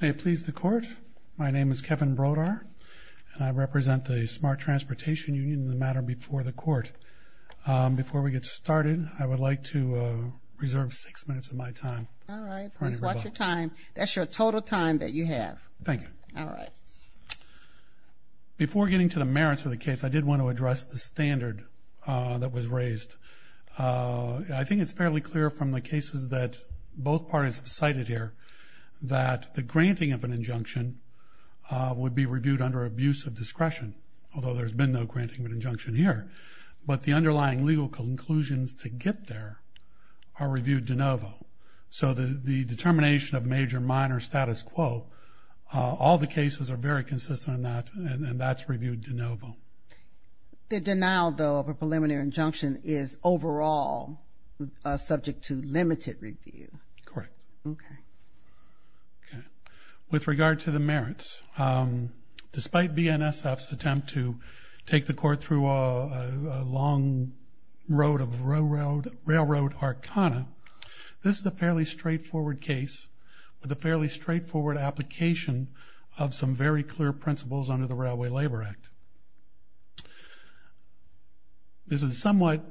May it please the Court, my name is Kevin Brodar and I represent the Smart Transportation Union in the matter before the Court. Before we get started, I would like to reserve six minutes of my time. Alright, please watch your time. That's your total time that you have. Thank you. Alright. Before getting to the merits of the case, I did want to address the standard that was raised. I think it's fairly clear from the cases that both parties have cited here that the granting of an injunction would be reviewed under abuse of discretion, although there's been no granting of an injunction here. But the underlying legal conclusions to get there are reviewed de novo. So the determination of major minor status quo, all the cases are very consistent in that, and that's reviewed de novo. The denial though of a preliminary injunction is overall subject to limited review. Correct. Okay. With regard to the merits, despite BNSF's attempt to take the Court through a long road of railroad arcana, this is a fairly straightforward case with a fairly straightforward application of some very clear principles under the Railway Labor Act. This is somewhat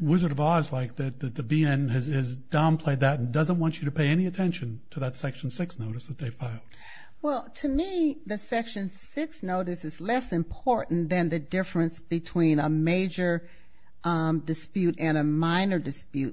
Wizard of Oz-like that the BN has downplayed that and doesn't want you to pay any attention to that Section 6 notice that they filed. Well, to me, the Section 6 notice is less important than the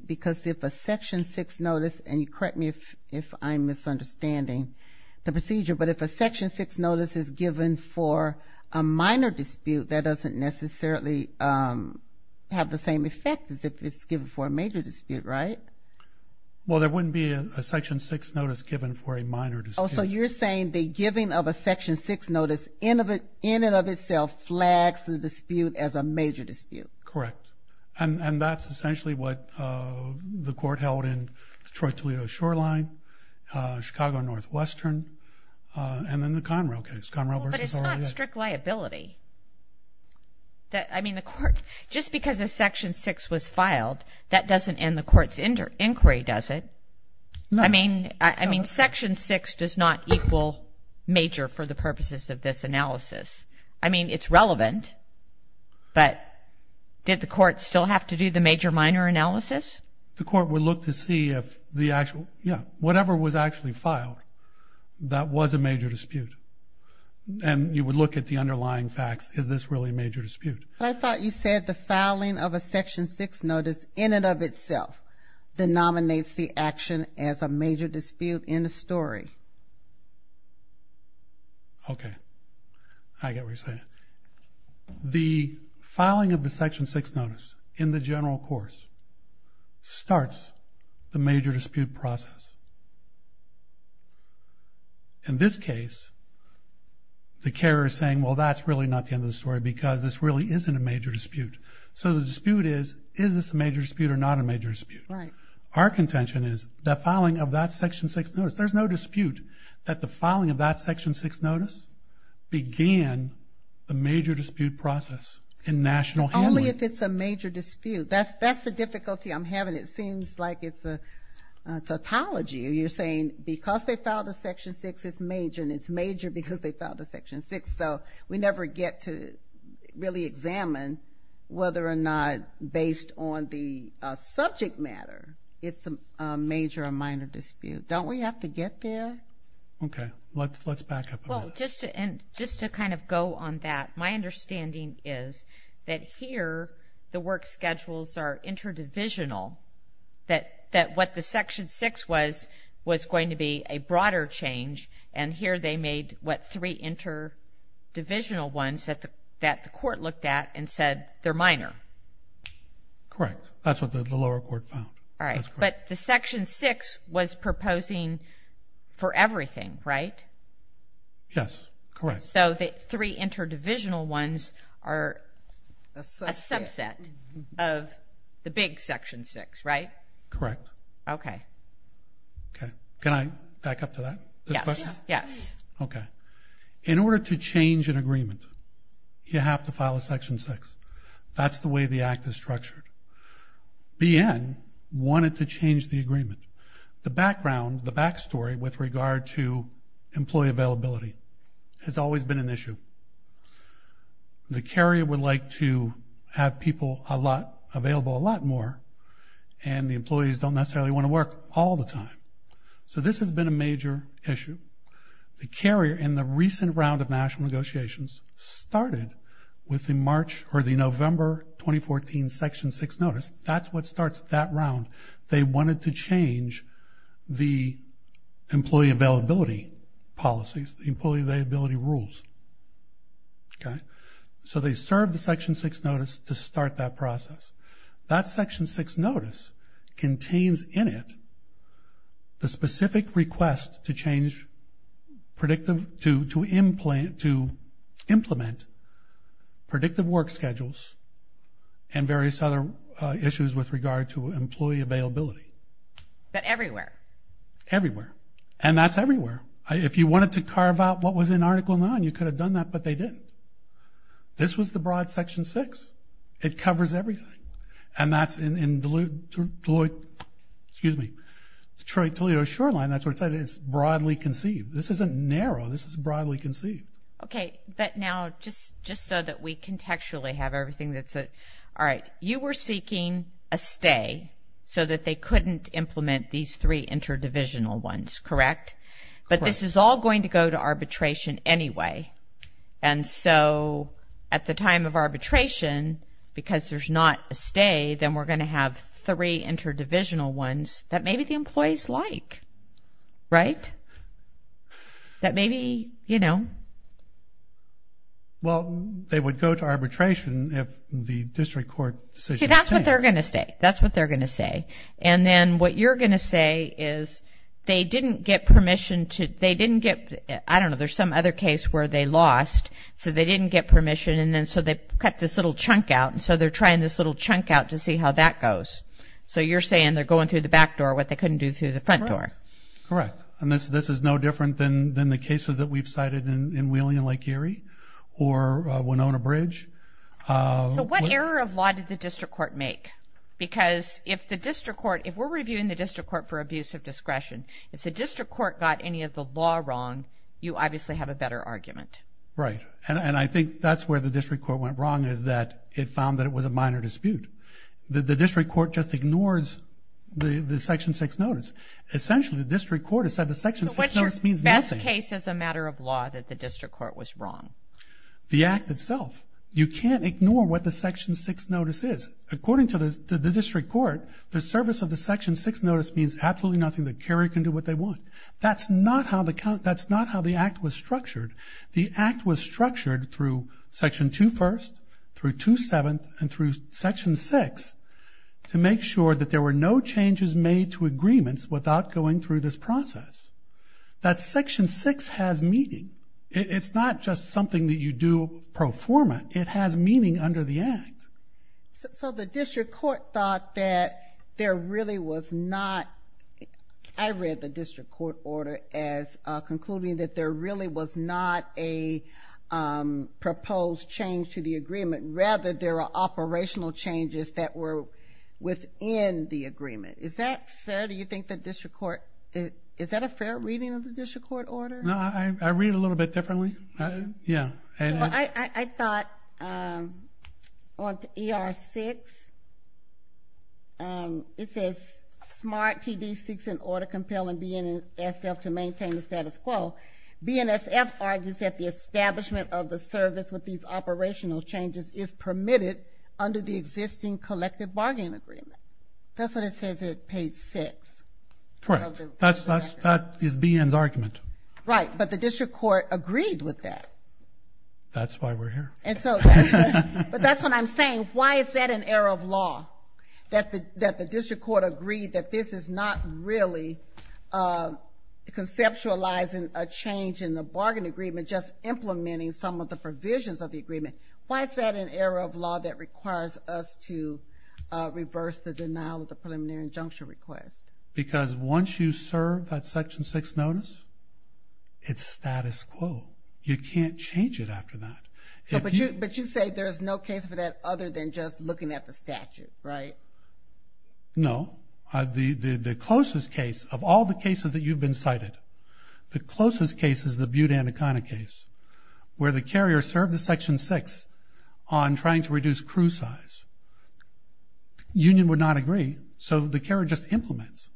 because if a Section 6 notice, and correct me if I'm misunderstanding the procedure, but if a Section 6 notice is given for a minor dispute, that doesn't necessarily have the same effect as if it's given for a major dispute, right? Well, there wouldn't be a Section 6 notice given for a minor dispute. Oh, so you're saying the giving of a Section 6 notice in and of itself flags the dispute as a major dispute. Correct. And that's essentially what the Court held in Detroit-Toledo Shoreline, Chicago-Northwestern, and then the Conrail case, Conrail v. Orlea. But it's not strict liability. I mean, the Court, just because a Section 6 was filed, that doesn't end the Court's inquiry, does it? No. I mean, Section 6 does not equal major for the purposes of this analysis. I mean, it's relevant, but did the Court still have to do the major-minor analysis? The Court would look to see if the actual, yeah, whatever was actually filed, that was a major dispute. And you would look at the underlying facts. Is this really a major dispute? I thought you said the filing of a Section 6 notice in and of itself denominates the action as a major dispute in the story. Okay. I get what you're saying. The filing of the Section 6 notice in the general course starts the major dispute process. In this case, the carrier is saying, well, that's really not the end of the story because this really isn't a major dispute. So the dispute is, is this a major dispute or not a major dispute? Right. Our contention is, the filing of that Section 6 notice, there's no dispute that the filing of that Section 6 notice began the major dispute process in national handling. Only if it's a major dispute. That's the difficulty I'm having. It seems like it's a tautology. You're saying because they filed a Section 6, it's major, and it's major because they filed a Section 6. So we never get to the major dispute. Don't we have to get there? Okay. Let's back up a bit. Well, just to kind of go on that, my understanding is that here, the work schedules are interdivisional, that what the Section 6 was, was going to be a broader change. And here they made what three interdivisional ones that the court looked at and said, they're minor. Correct. That's what the lower court found. All right. But the Section 6 was proposing for everything, right? Yes. Correct. So the three interdivisional ones are a subset of the big Section 6, right? Correct. Okay. Okay. Can I back up to that? Yes. Okay. In order to change an agreement, you have to file a Section 6. That's the way the act is structured. BN wanted to change the agreement. The background, the backstory with regard to employee availability has always been an issue. The carrier would like to have people available a lot more, and the employees don't necessarily want to work all the time. So this has been a major issue. The carrier in the recent round of national negotiations started with the March or the November 2014 Section 6 notice. That's what starts that round. They wanted to change the employee availability policies, the employee availability rules. Okay. So they served the Section 6 notice to start that process. That Section 6 notice contains in it the specific request to change, to implement predictive work schedules and various other issues with regard to employee availability. But everywhere? Everywhere. And that's everywhere. If you wanted to carve out what was in Article 9, you could have done that, but they didn't. This was the broad conceived. This isn't narrow. This is broadly conceived. Okay. But now just so that we contextually have everything that's... All right. You were seeking a stay so that they couldn't implement these three interdivisional ones, correct? Correct. But this is all going to go to arbitration anyway. And so at the time of arbitration, because there's not a stay, then we're going to have three interdivisional ones that maybe the employees like, right? That maybe, you know... Well, they would go to arbitration if the district court decision was to... See, that's what they're going to say. That's what they're going to say. And then what you're going to say is they didn't get permission to... They didn't get... I don't know. There's some other case where they lost, so they didn't get permission. And then so they cut this little chunk out, and so they're trying this little chunk out to see how that goes. So you're saying they're going through the back door, what they couldn't do through the front door. Correct. And this is no different than the cases that we've cited in Wheeling and Lake Erie or Winona Bridge. So what error of law did the district court make? Because if the district court... If we're reviewing the district court for abuse of discretion, if the district court got any of the law wrong, you obviously have a better argument. Right. And I think that's where the district court went wrong is that it found that it was a minor dispute. The district court just ignores the Section 6 notice. Essentially, the district court has said the Section 6 notice means nothing. So what's your best case as a matter of law that the district court was wrong? The act itself. You can't ignore what the Section 6 notice is. According to the district court, the service of the Section 6 notice means absolutely nothing. The carrier can do what they want. That's not how the count... The act was structured through Section 2 First, through 2 Seventh, and through Section 6 to make sure that there were no changes made to agreements without going through this process. That Section 6 has meaning. It's not just something that you do pro forma. It has meaning under the act. So the district court thought that there really was not... I read the district court order as concluding that there really was not a proposed change to the agreement. Rather, there were operational changes that were within the agreement. Is that fair? Do you think the district court... Is that a fair reading of the district court order? No, I read it a little bit differently. I thought on ER 6, it says, Smart TD 6 in order to compel BNSF to maintain the status quo. BNSF argues that the establishment of the service with these operational changes is permitted under the existing collective bargaining agreement. That's what it says on page 6. Correct. That is BN's argument. Right, but the district court agreed with that. That's why we're here. But that's what I'm saying. Why is that an error of law? That the district court agreed that this is not really conceptualizing a change in the bargaining agreement, just implementing some of the provisions of the agreement. Why is that an error of law that requires us to reverse the denial of the preliminary injunction request? Because once you serve that section 6 notice, it's status quo. You can't change it after that. But you say there's no case for that other than just looking at the statute, right? No. The closest case of all the cases that you've been cited, the closest case is the Butte-Anaconda case, where the carrier served the section 6 on trying to reduce crew size. Union would not agree, so the carrier just implements.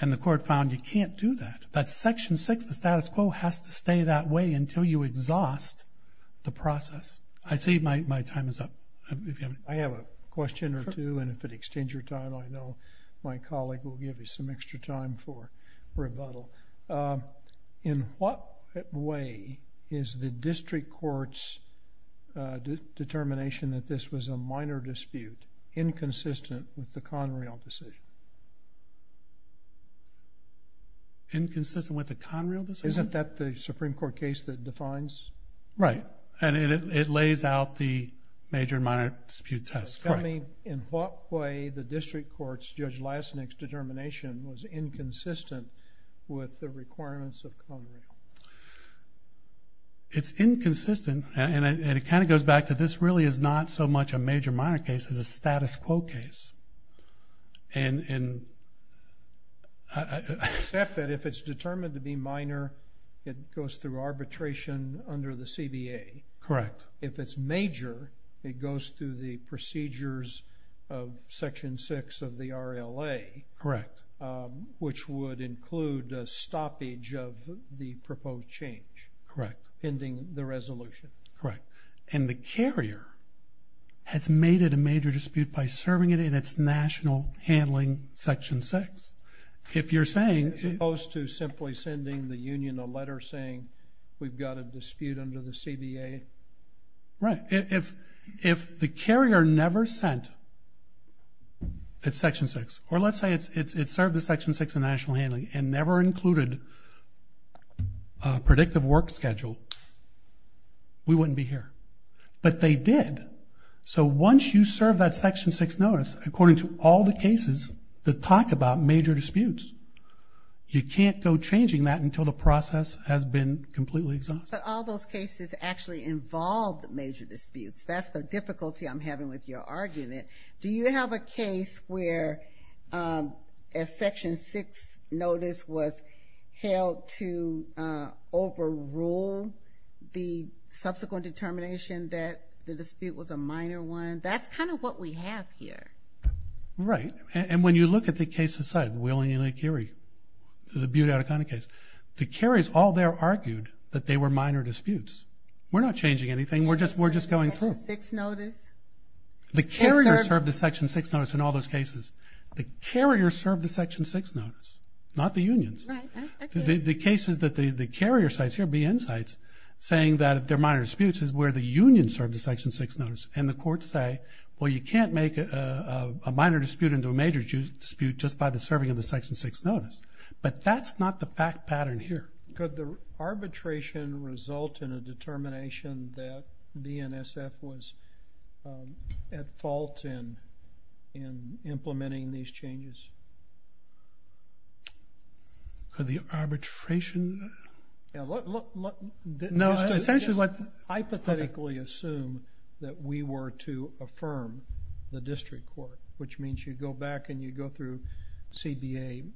And the court found you can't do that. That section 6, the status quo, has to stay that way until you exhaust the process. I see my time is up. I have a question or two, and if it extends your time, I know my colleague will give you some extra time for rebuttal. In what way is the district court's determination that this was a minor dispute inconsistent with the Conrail decision? Inconsistent with the Conrail decision? Isn't that the Supreme Court case that defines? Right. And it lays out the major and minor dispute test. Tell me in what way the district court's, Judge Lassnick's, determination was inconsistent with the requirements of Conrail? It's inconsistent, and it kind of goes back to this really is not so much a major minor case as a status quo case. And I accept that if it's determined to be minor, it goes through arbitration under the CBA. Correct. If it's major, it goes through the procedures of section 6 of the RLA, which would include a stoppage of the proposed change pending the resolution. Correct. And the carrier has made it a major dispute by serving it in its national handling section 6. If you're saying... As opposed to simply sending the union a letter saying we've got a dispute under the CBA? Right. If the carrier never sent its section 6, or let's say it served the section 6 of the RLA, we wouldn't be here. But they did. So once you serve that section 6 notice, according to all the cases that talk about major disputes, you can't go changing that until the process has been completely exhausted. But all those cases actually involve major disputes. That's the difficulty I'm having with your argument. Do you have a case where a section 6 notice was held to overrule the subsequent determination that the dispute was a minor one? That's kind of what we have here. Right. And when you look at the case of Will and Elia Carey, the Butte-Ottacona case, the carriers all there argued that they were minor disputes. We're not changing anything. We're just going through. Section 6 notice? The carrier served the section 6 notice in all those cases. The carrier served the section 6 notice, not the unions. The cases that the carrier cites here, BN cites, saying that they're minor disputes is where the union served the section 6 notice. And the courts say, well, you can't make a minor dispute into a major dispute just by the serving of the section 6 notice. But that's not the fact pattern here. Could the arbitration result in a determination that BNSF was at fault in implementing these changes? Could the arbitration... Just hypothetically assume that we were to affirm the district court, which means you go back and you go through CBA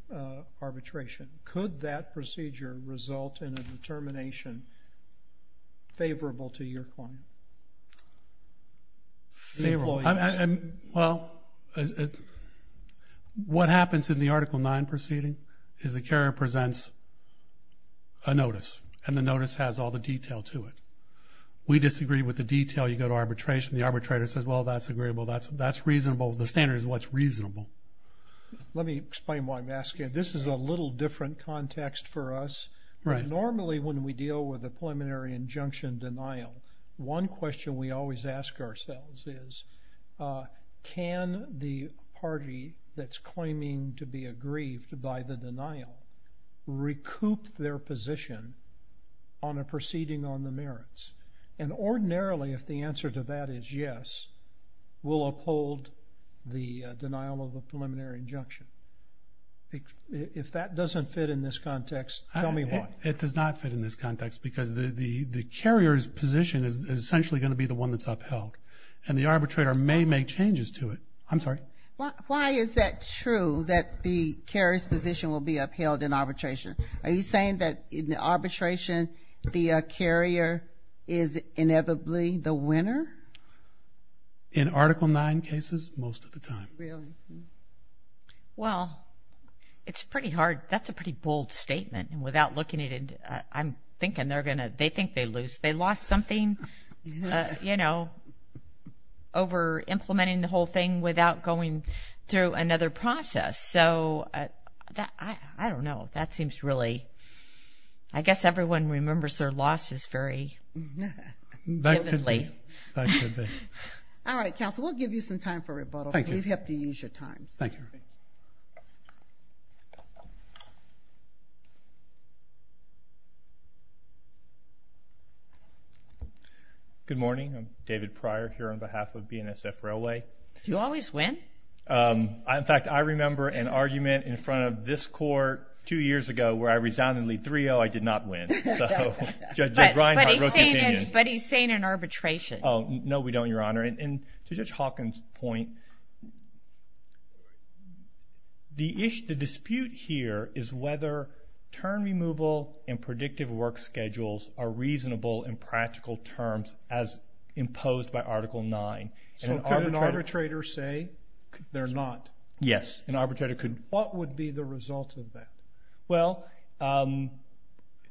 arbitration. Could that procedure result in a determination favorable to your client? Favorable. Well, what happens in the Article 9 proceeding is the carrier presents a notice. And the notice has all the detail to it. We disagree with the detail. You go to arbitration. The arbitrator says, well, that's agreeable. That's reasonable. The standard is what's reasonable. Let me explain why I'm asking. This is a little different context for us. Normally, when we deal with a preliminary injunction denial, one question we always ask ourselves is, can the party that's claiming to be aggrieved by the denial recoup their position on a proceeding on the merits? And ordinarily, if the answer to that is yes, we'll uphold the denial of a preliminary injunction. If that doesn't fit in this context, tell me why. It does not fit in this context because the carrier's position is essentially going to be the one that's upheld. And the arbitrator may make changes to it. I'm sorry. Why is that true that the carrier's position will be upheld in arbitration? Are you saying that in the arbitration, the carrier is inevitably the winner? In Article 9 cases, most of the time. Really? Well, it's pretty hard. That's a pretty bold statement. Without looking at it, I'm thinking they're going to, they think they lose. They lost something, you know, over implementing the whole thing without going through another process. So, I don't know. That seems really, I guess everyone remembers their losses very vividly. All right, counsel, we'll give you some time for rebuttal. You have to use your time. Thank you. Good morning. I'm David Pryor here on behalf of BNSF Railway. Do you always win? In fact, I remember an argument in front of this court two years ago where I resoundedly 3-0, I did not win. So, Judge Reinhart wrote the opinion. But he's saying in arbitration. Oh, no we don't, Your Honor. And to Judge Hawkins' point, the dispute here is whether term removal and predictive work schedules are reasonable in practical terms as imposed by Article 9. So, could an arbitrator say they're not? Yes, an arbitrator could. What would be the result of that? Well,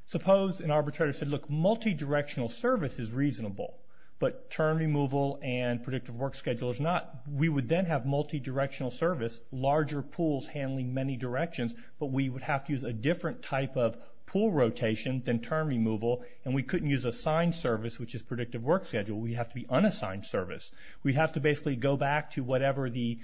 suppose an arbitrator said, look, multidirectional service is reasonable. But term removal and predictive work schedule is not. We would then have multidirectional service, larger pools handling many directions. But we would have to use a different type of pool rotation than term removal. And we couldn't use assigned service, which is predictive work schedule. We'd have to be unassigned service. We'd have to basically go back to whatever the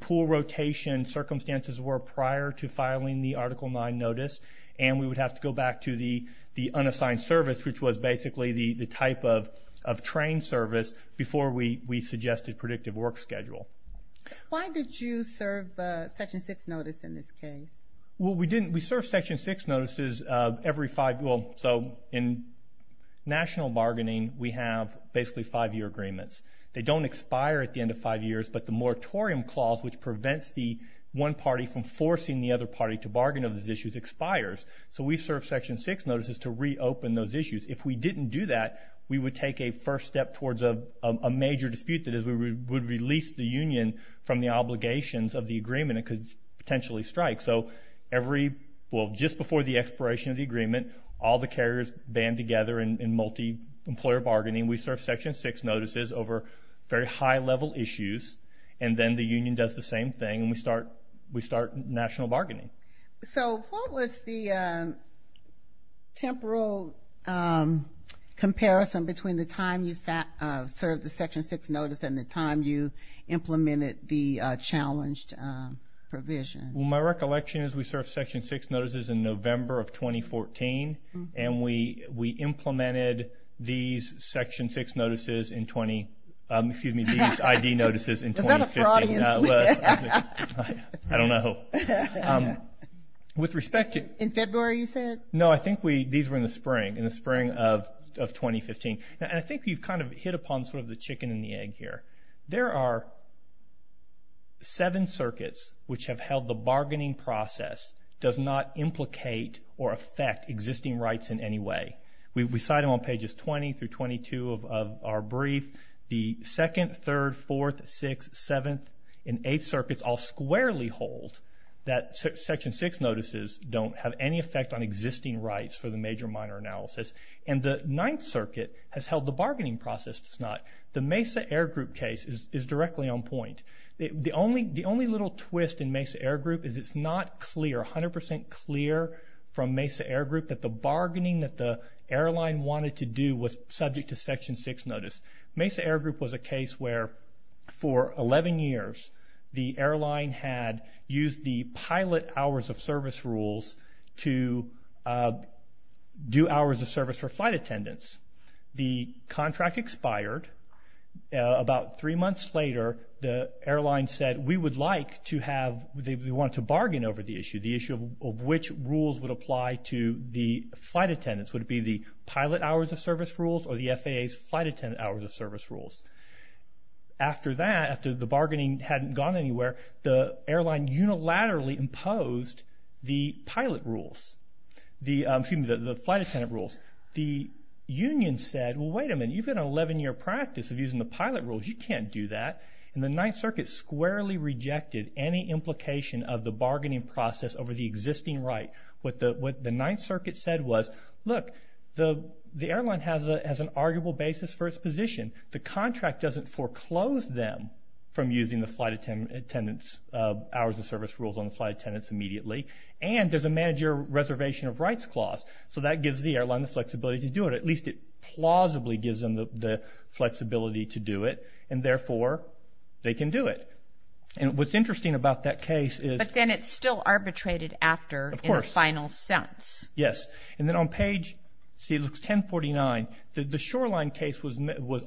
pool rotation circumstances were prior to filing the Article 9 notice. And we would have to go back to the unassigned service, which was basically the type of trained service before we suggested predictive work schedule. Why did you serve Section 6 notice in this case? Well, we didn't. We serve Section 6 notices every five years. So, in national bargaining, we have basically five-year agreements. They don't expire at the end of five years. But the moratorium clause, which prevents the one party from forcing the other party to bargain over these issues, expires. So, we serve Section 6 notices to reopen those issues. If we didn't do that, we would take a first step towards a major dispute that is we would release the union from the obligations of the agreement. It could potentially strike. So, every – well, just before the expiration of the agreement, all the carriers band together in multi-employer bargaining. We serve Section 6 notices over very high-level issues. And then the union does the same thing, and we start national bargaining. So, what was the temporal comparison between the time you served the Section 6 notice and the time you implemented the challenged provision? Well, my recollection is we served Section 6 notices in November of 2014. And we implemented these Section 6 notices in – excuse me, these ID notices in 2015. Is that a fraud? I don't know. With respect to – In February, you said? No, I think these were in the spring, in the spring of 2015. And I think you've kind of hit upon sort of the chicken and the egg here. There are seven circuits which have held the bargaining process does not implicate or affect existing rights in any way. We cite them on pages 20 through 22 of our brief. The 2nd, 3rd, 4th, 6th, 7th, and 8th circuits all squarely hold that Section 6 notices don't have any effect on existing rights for the major-minor analysis. And the 9th circuit has held the bargaining process. It's not – the Mesa Air Group case is directly on point. The only little twist in Mesa Air Group is it's not clear, 100% clear from Mesa Air Group that the bargaining that the airline wanted to do was subject to Section 6 notice. Mesa Air Group was a case where, for 11 years, the airline had used the pilot hours of service rules to do hours of service for flight attendants. The contract expired. About three months later, the airline said we would like to have – they wanted to bargain over the issue, the issue of which rules would apply to the flight attendants. Would it be the pilot hours of service rules or the FAA's flight attendant hours of service rules? After that, after the bargaining hadn't gone anywhere, the airline unilaterally imposed the pilot rules – excuse me, the flight attendant rules. The union said, well, wait a minute. You've got an 11-year practice of using the pilot rules. You can't do that. And the 9th circuit squarely rejected any implication of the bargaining process over the existing right. What the 9th circuit said was, look, the airline has an arguable basis for its position. The contract doesn't foreclose them from using the flight attendant's hours of service rules on the flight attendants immediately. And there's a manager reservation of rights clause. So that gives the airline the flexibility to do it. At least it plausibly gives them the flexibility to do it. And therefore, they can do it. And what's interesting about that case is – But then it's still arbitrated after in the final sentence. Of course. Yes. And then on page – see, it looks 1049. The Shoreline case was –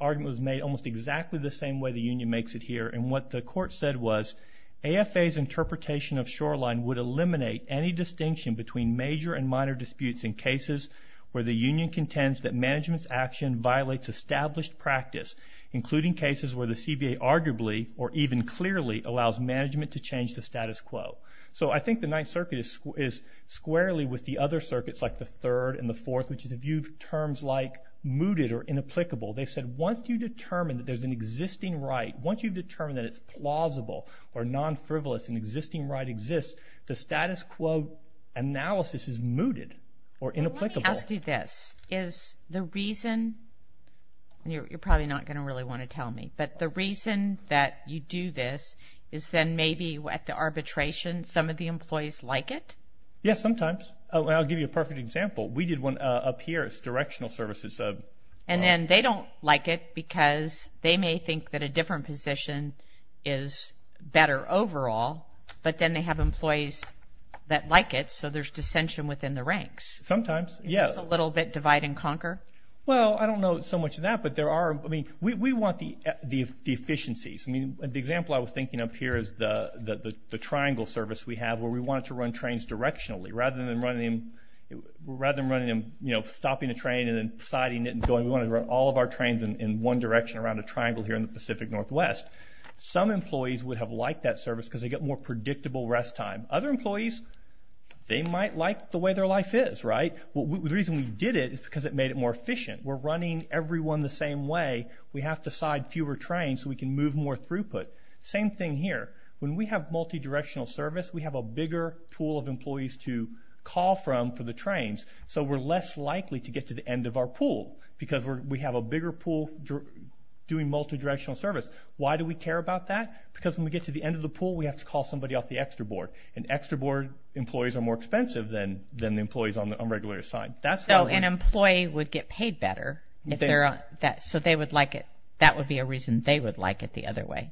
argument was made almost exactly the same way the union makes it here. And what the court said was, AFA's interpretation of Shoreline would eliminate any distinction between major and minor disputes in cases where the union contends that management's action violates established practice, including cases where the CBA arguably or even clearly allows management to change the status quo. So I think the 9th circuit is squarely with the other circuits like the 3rd and the 4th, which is a view of terms like mooted or inapplicable. They've said once you determine that there's an existing right, once you've determined that it's plausible or non-frivolous, an existing right exists, the status quo analysis is mooted or inapplicable. Well, let me ask you this. Is the reason – and you're probably not going to really want to tell me – but the reason that you do this is then maybe at the arbitration some of the employees like it? Yes, sometimes. I'll give you a perfect example. We did one up here. It's directional services. And then they don't like it because they may think that a different position is better overall. But then they have employees that like it, so there's dissension within the ranks. Sometimes, yes. Is this a little bit divide and conquer? Well, I don't know so much of that, but there are – I mean, we want the efficiencies. I mean, the example I was thinking of here is the triangle service we have where we wanted to run trains directionally. Rather than running them, you know, stopping a train and then siding it and going, we wanted to run all of our trains in one direction around a triangle here in the Pacific Northwest. Some employees would have liked that service because they get more predictable rest time. Other employees, they might like the way their life is, right? The reason we did it is because it made it more efficient. We're running everyone the same way. We have to side fewer trains so we can move more throughput. Same thing here. When we have multidirectional service, we have a bigger pool of employees to call from for the trains, so we're less likely to get to the end of our pool because we have a bigger pool doing multidirectional service. Why do we care about that? Because when we get to the end of the pool, we have to call somebody off the extra board. And extra board employees are more expensive than the employees on the unregulated side. So an employee would get paid better so they would like it. That would be a reason they would like it the other way.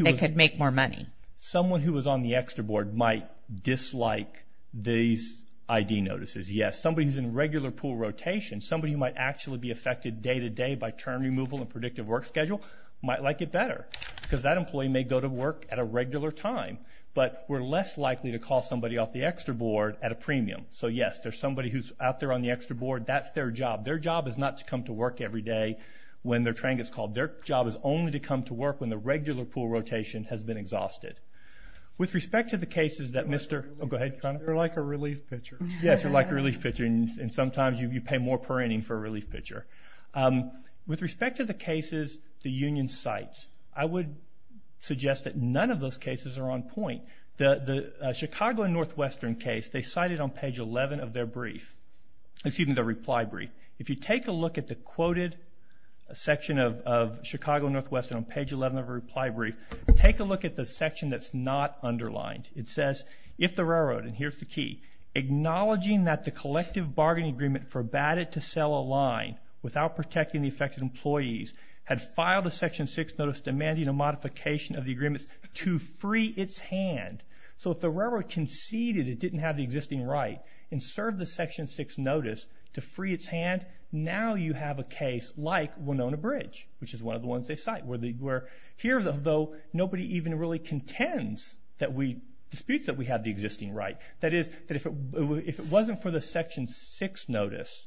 They could make more money. Someone who was on the extra board might dislike these ID notices. Yes. Somebody who's in regular pool rotation, somebody who might actually be affected day-to-day by term removal and predictive work schedule might like it better because that employee may go to work at a regular time. But we're less likely to call somebody off the extra board at a premium. So yes, there's somebody who's out there on the extra board. That's their job. Their job is not to come to work every day when their train gets called. Their job is only to come to work when the regular pool rotation has been exhausted. With respect to the cases that Mr. Oh, go ahead. You're like a relief pitcher. Yes, you're like a relief pitcher and sometimes you pay more per inning for a relief pitcher. With respect to the cases the union cites, I would suggest that none of those cases are on point. The Chicago and Northwestern case, they cite it on page 11 of their brief. Excuse me, their reply brief. If you take a look at the quoted section of Chicago and Northwestern on page 11 of their reply brief, take a look at the section that's not underlined. It says, if the railroad, and here's the key, acknowledging that the collective bargaining agreement forbade it to sell a line without protecting the affected employees had filed a section 6 notice demanding a modification of the agreement to free its hand. So if the railroad conceded it didn't have the existing right and served the section 6 notice to free its hand, now you have a case like Winona Bridge, which is one of the ones they cite. Here, though, nobody even really contends disputes that we have the existing right. That is, if it wasn't for the section 6 notice,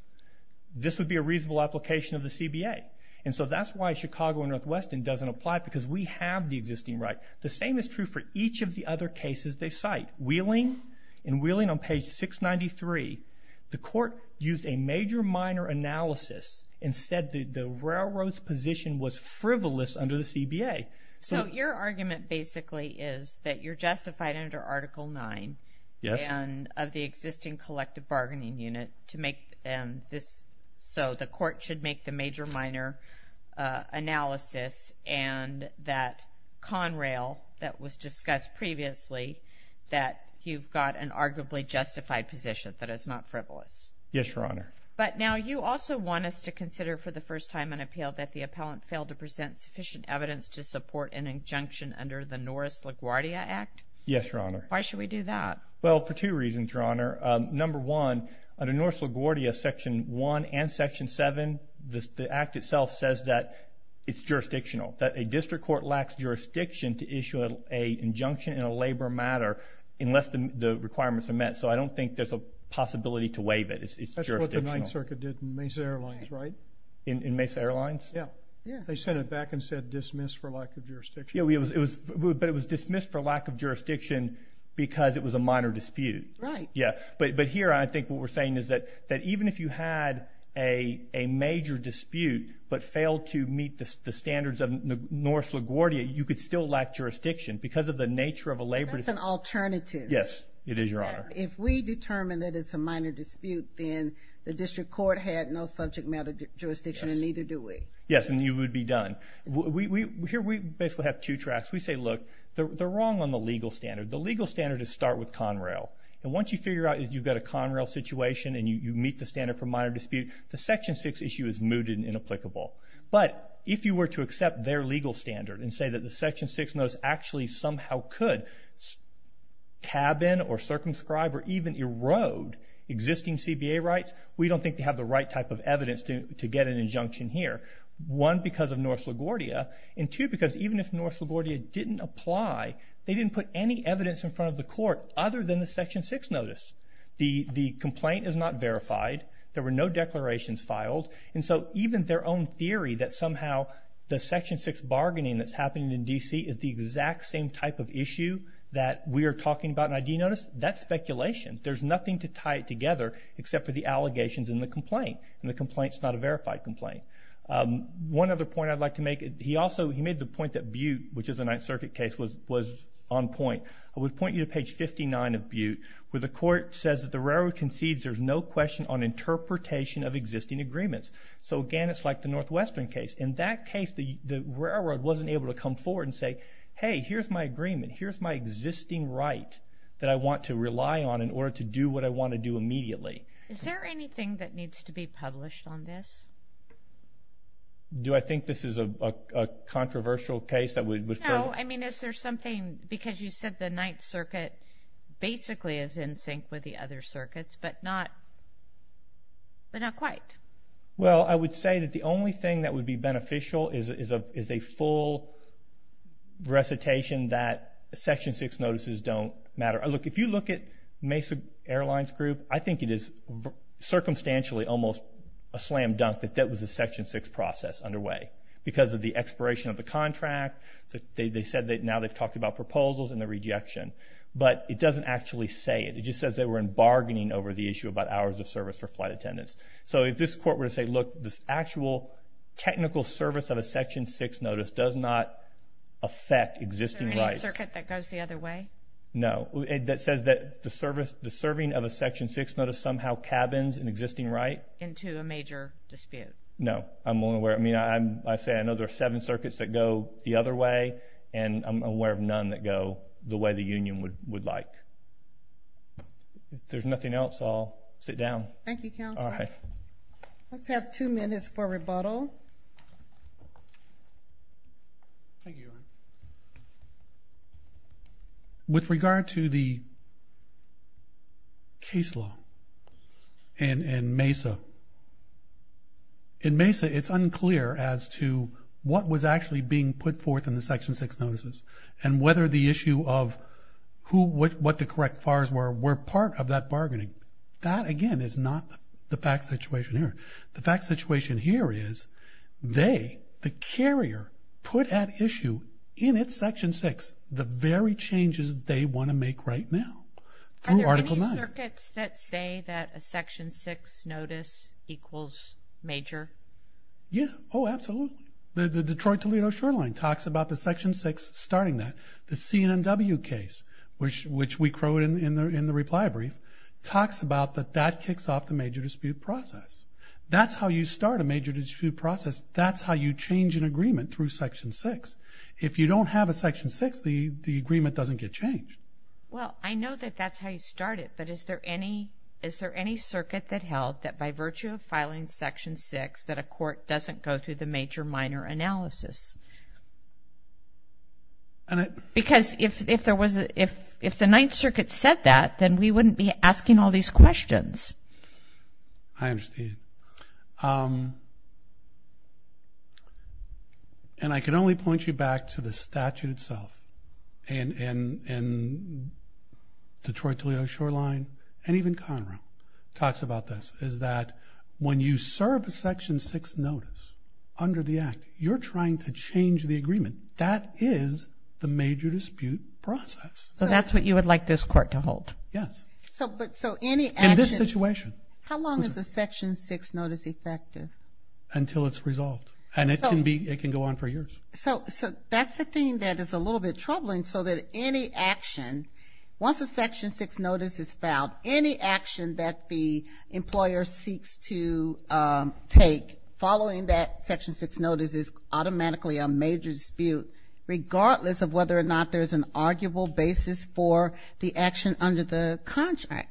this would be a reasonable application of the CBA. And so that's why Chicago and Northwestern doesn't apply because we have the existing right. The same is true for each of the other cases they cite. Wheeling, in Wheeling on page 693, the court used a major minor analysis and said that the railroad's position was frivolous under the CBA. So your argument basically is that you're justified under Article 9 of the existing collective bargaining unit to make this so the court should make the major minor analysis and that Conrail that was discussed previously that you've got an arguably justified position that is not frivolous. Yes, Your Honor. But now you also want us to consider for the first time an appeal that the appellant failed to present sufficient evidence to support an injunction under the Norris LaGuardia Act? Yes, Your Honor. Why should we do that? Well, for two reasons, Your Honor. Number one, under Norris LaGuardia, Section 1 and Section 7, the Act itself says that it's jurisdictional. That a district court lacks jurisdiction to issue an injunction in a labor matter unless the requirements are met. So I don't think there's a possibility to waive it. It's jurisdictional. That's what the 9th Circuit did in Mesa Airlines, right? In Mesa Airlines? Yeah. They sent it back and said dismissed for lack of jurisdiction. Yeah, but it was dismissed for lack of jurisdiction because it was a minor dispute. Right. Yeah, but here I think what we're saying is that even if you had a major dispute but failed to meet the standards of Norris LaGuardia, you could still lack jurisdiction because of the nature of a labor dispute. That's an alternative. Yes. It is, Your Honor. If we determine that it's a minor dispute, then the district court had no subject matter jurisdiction and neither do we. Yes, and you would be done. Here we basically have two tracks. We say, look, they're wrong on the legal standard. The legal standard is start with Conrail. And once you figure out that you've got a Conrail situation and you meet the standard for minor dispute, the Section 6 issue is mooted and inapplicable. But if you were to accept their legal standard and say that the Section 6 notice actually somehow could cabin or circumscribe or even erode existing CBA rights, we don't think they have the right type of evidence to get an injunction here. One, because of Norris LaGuardia. And two, because even if Norris LaGuardia didn't apply, they didn't put any evidence in front of the court other than the Section 6 notice. The complaint is not verified. There were no declarations filed. And so even their own theory that somehow the Section 6 bargaining that's happening in D.C. is the exact same type of issue that we are talking about in an ID notice, that's speculation. There's nothing to tie it together except for the allegations in the complaint. And the complaint's not a verified complaint. One other point I'd like to make. He also made the point that Butte, which is a Ninth Circuit case, was on point. I would point you to page 59 of Butte, where the court says that the railroad concedes there's no question on interpretation of existing agreements. So again, it's like the Northwestern case. In that case, the railroad wasn't able to come forward and say, hey, here's my agreement. Here's my existing right that I want to immediately. Is there anything that needs to be published on this? Do I think this is a controversial case that would... No, I mean, is there something because you said the Ninth Circuit basically is in sync with the other circuits, but not but not quite. Well, I would say that the only thing that would be beneficial is a full recitation that Section 6 notices don't matter. Look, if you look at the case of Airlines Group, I think it is circumstantially almost a slam dunk that that was a Section 6 process underway because of the expiration of the contract. They said that now they've talked about proposals and the rejection, but it doesn't actually say it. It just says they were in bargaining over the issue about hours of service for flight attendants. So if this court were to say, look, this actual technical service of a Section 6 notice does not affect existing rights... Is there any circuit that goes the other way? No. That says that the serving of a Section 6 notice somehow cabins an existing right? Into a major dispute. No. I'm only aware... I mean, I say I know there are seven circuits that go the other way and I'm aware of none that go the way the Union would like. If there's nothing else, I'll sit down. Thank you, Counselor. Let's have two minutes for rebuttal. With regard to the case law and MESA, in MESA it's unclear as to what was actually being put forth in the Section 6 notices and whether the issue of what the correct FARs were, were part of that bargaining. That, again, is not the fact situation here. The fact situation here is they, the carrier, put at issue in its Section 6 the very changes they want to make right now. Are there any circuits that say that a Section 6 notice equals major? Yeah. Oh, absolutely. The Detroit-Toledo-Shoreline talks about the Section 6 starting that. The CNNW case, which we quote in the reply brief, talks about that that kicks off the major dispute process. That's how you start a major dispute process. That's how you change an agreement through Section 6. If you don't have a Section 6, the agreement doesn't get changed. Well, I know that that's how you start it, but is there any circuit that held that by virtue of filing Section 6 that a court doesn't go through the major-minor analysis? Because if the Ninth Circuit said that, then we wouldn't be asking all these questions. I understand. Um... And I can only point you back to the statute itself. And Detroit-Toledo-Shoreline and even Conrail talks about this, is that when you serve a Section 6 notice under the Act, you're trying to change the agreement. That is the major dispute process. So that's what you would like this court to hold? Yes. In this situation. How long is a Section 6 notice effective? Until it's resolved. And it can go on for years. So that's the thing that is a little bit troubling, so that any action once a Section 6 notice is filed, any action that the employer seeks to take following that Section 6 notice is automatically a major dispute, regardless of whether or not there's an arguable basis for the action under the contract.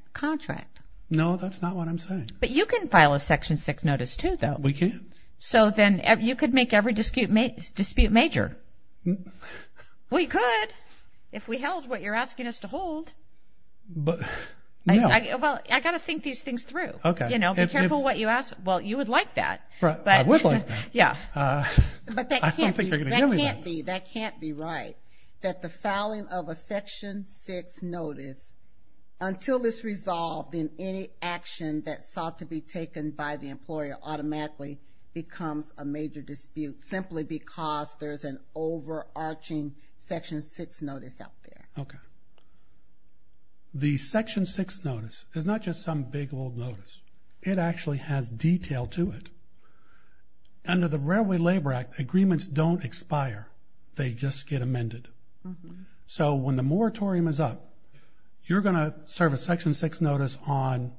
No, that's not what I'm saying. But you can file a Section 6 notice, too, though. We can. So then you could make every dispute major. We could, if we held what you're asking us to hold. Well, I've got to think these things through. Be careful what you ask. Well, you would like that. I would like that. I don't think they're going to give me that. That can't be right, that the filing of a Section 6 notice until it's resolved and any action that sought to be taken by the employer automatically becomes a major dispute simply because there's an overarching Section 6 notice out there. The Section 6 notice is not just some big old notice. It actually has detail to it. Under the Railway Labor Act, agreements don't expire. They just get amended. So when the moratorium is up, you're going to serve a Section 6 notice on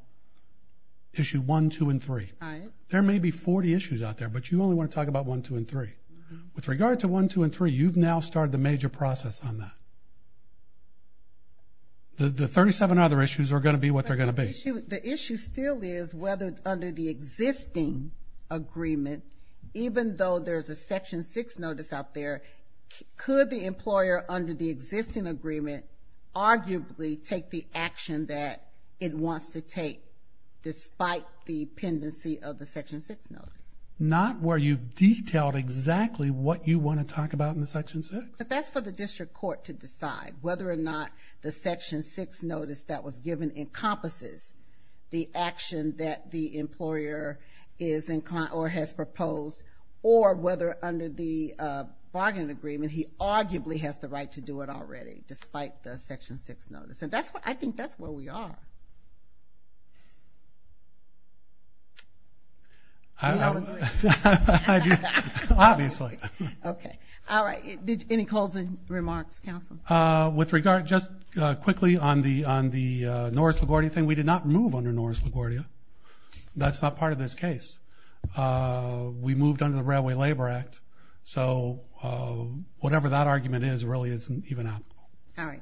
Issue 1, 2, and 3. There may be 40 issues out there, but you only want to talk about 1, 2, and 3. With regard to 1, 2, and 3, you've now started the major process on that. The 37 other issues are going to be what they're going to be. The issue still is whether under the existing agreement, even though there's a Section 6 notice out there, could the employer under the bargaining agreement arguably take the action that it wants to take despite the pendency of the Section 6 notice? Not where you've detailed exactly what you want to talk about in the Section 6. But that's for the district court to decide whether or not the Section 6 notice that was given encompasses the action that the employer is inclined or has proposed or whether under the existing agreement, that it wants to take despite the Section 6 notice? I think that's where we are. Do you all agree? Obviously. Any closing remarks, counsel? Just quickly on the Norris-LaGuardia thing. We did not move under Norris-LaGuardia. That's not part of this case. We moved under the Railway Labor Act. Whatever that argument is really isn't even applicable. Thank you.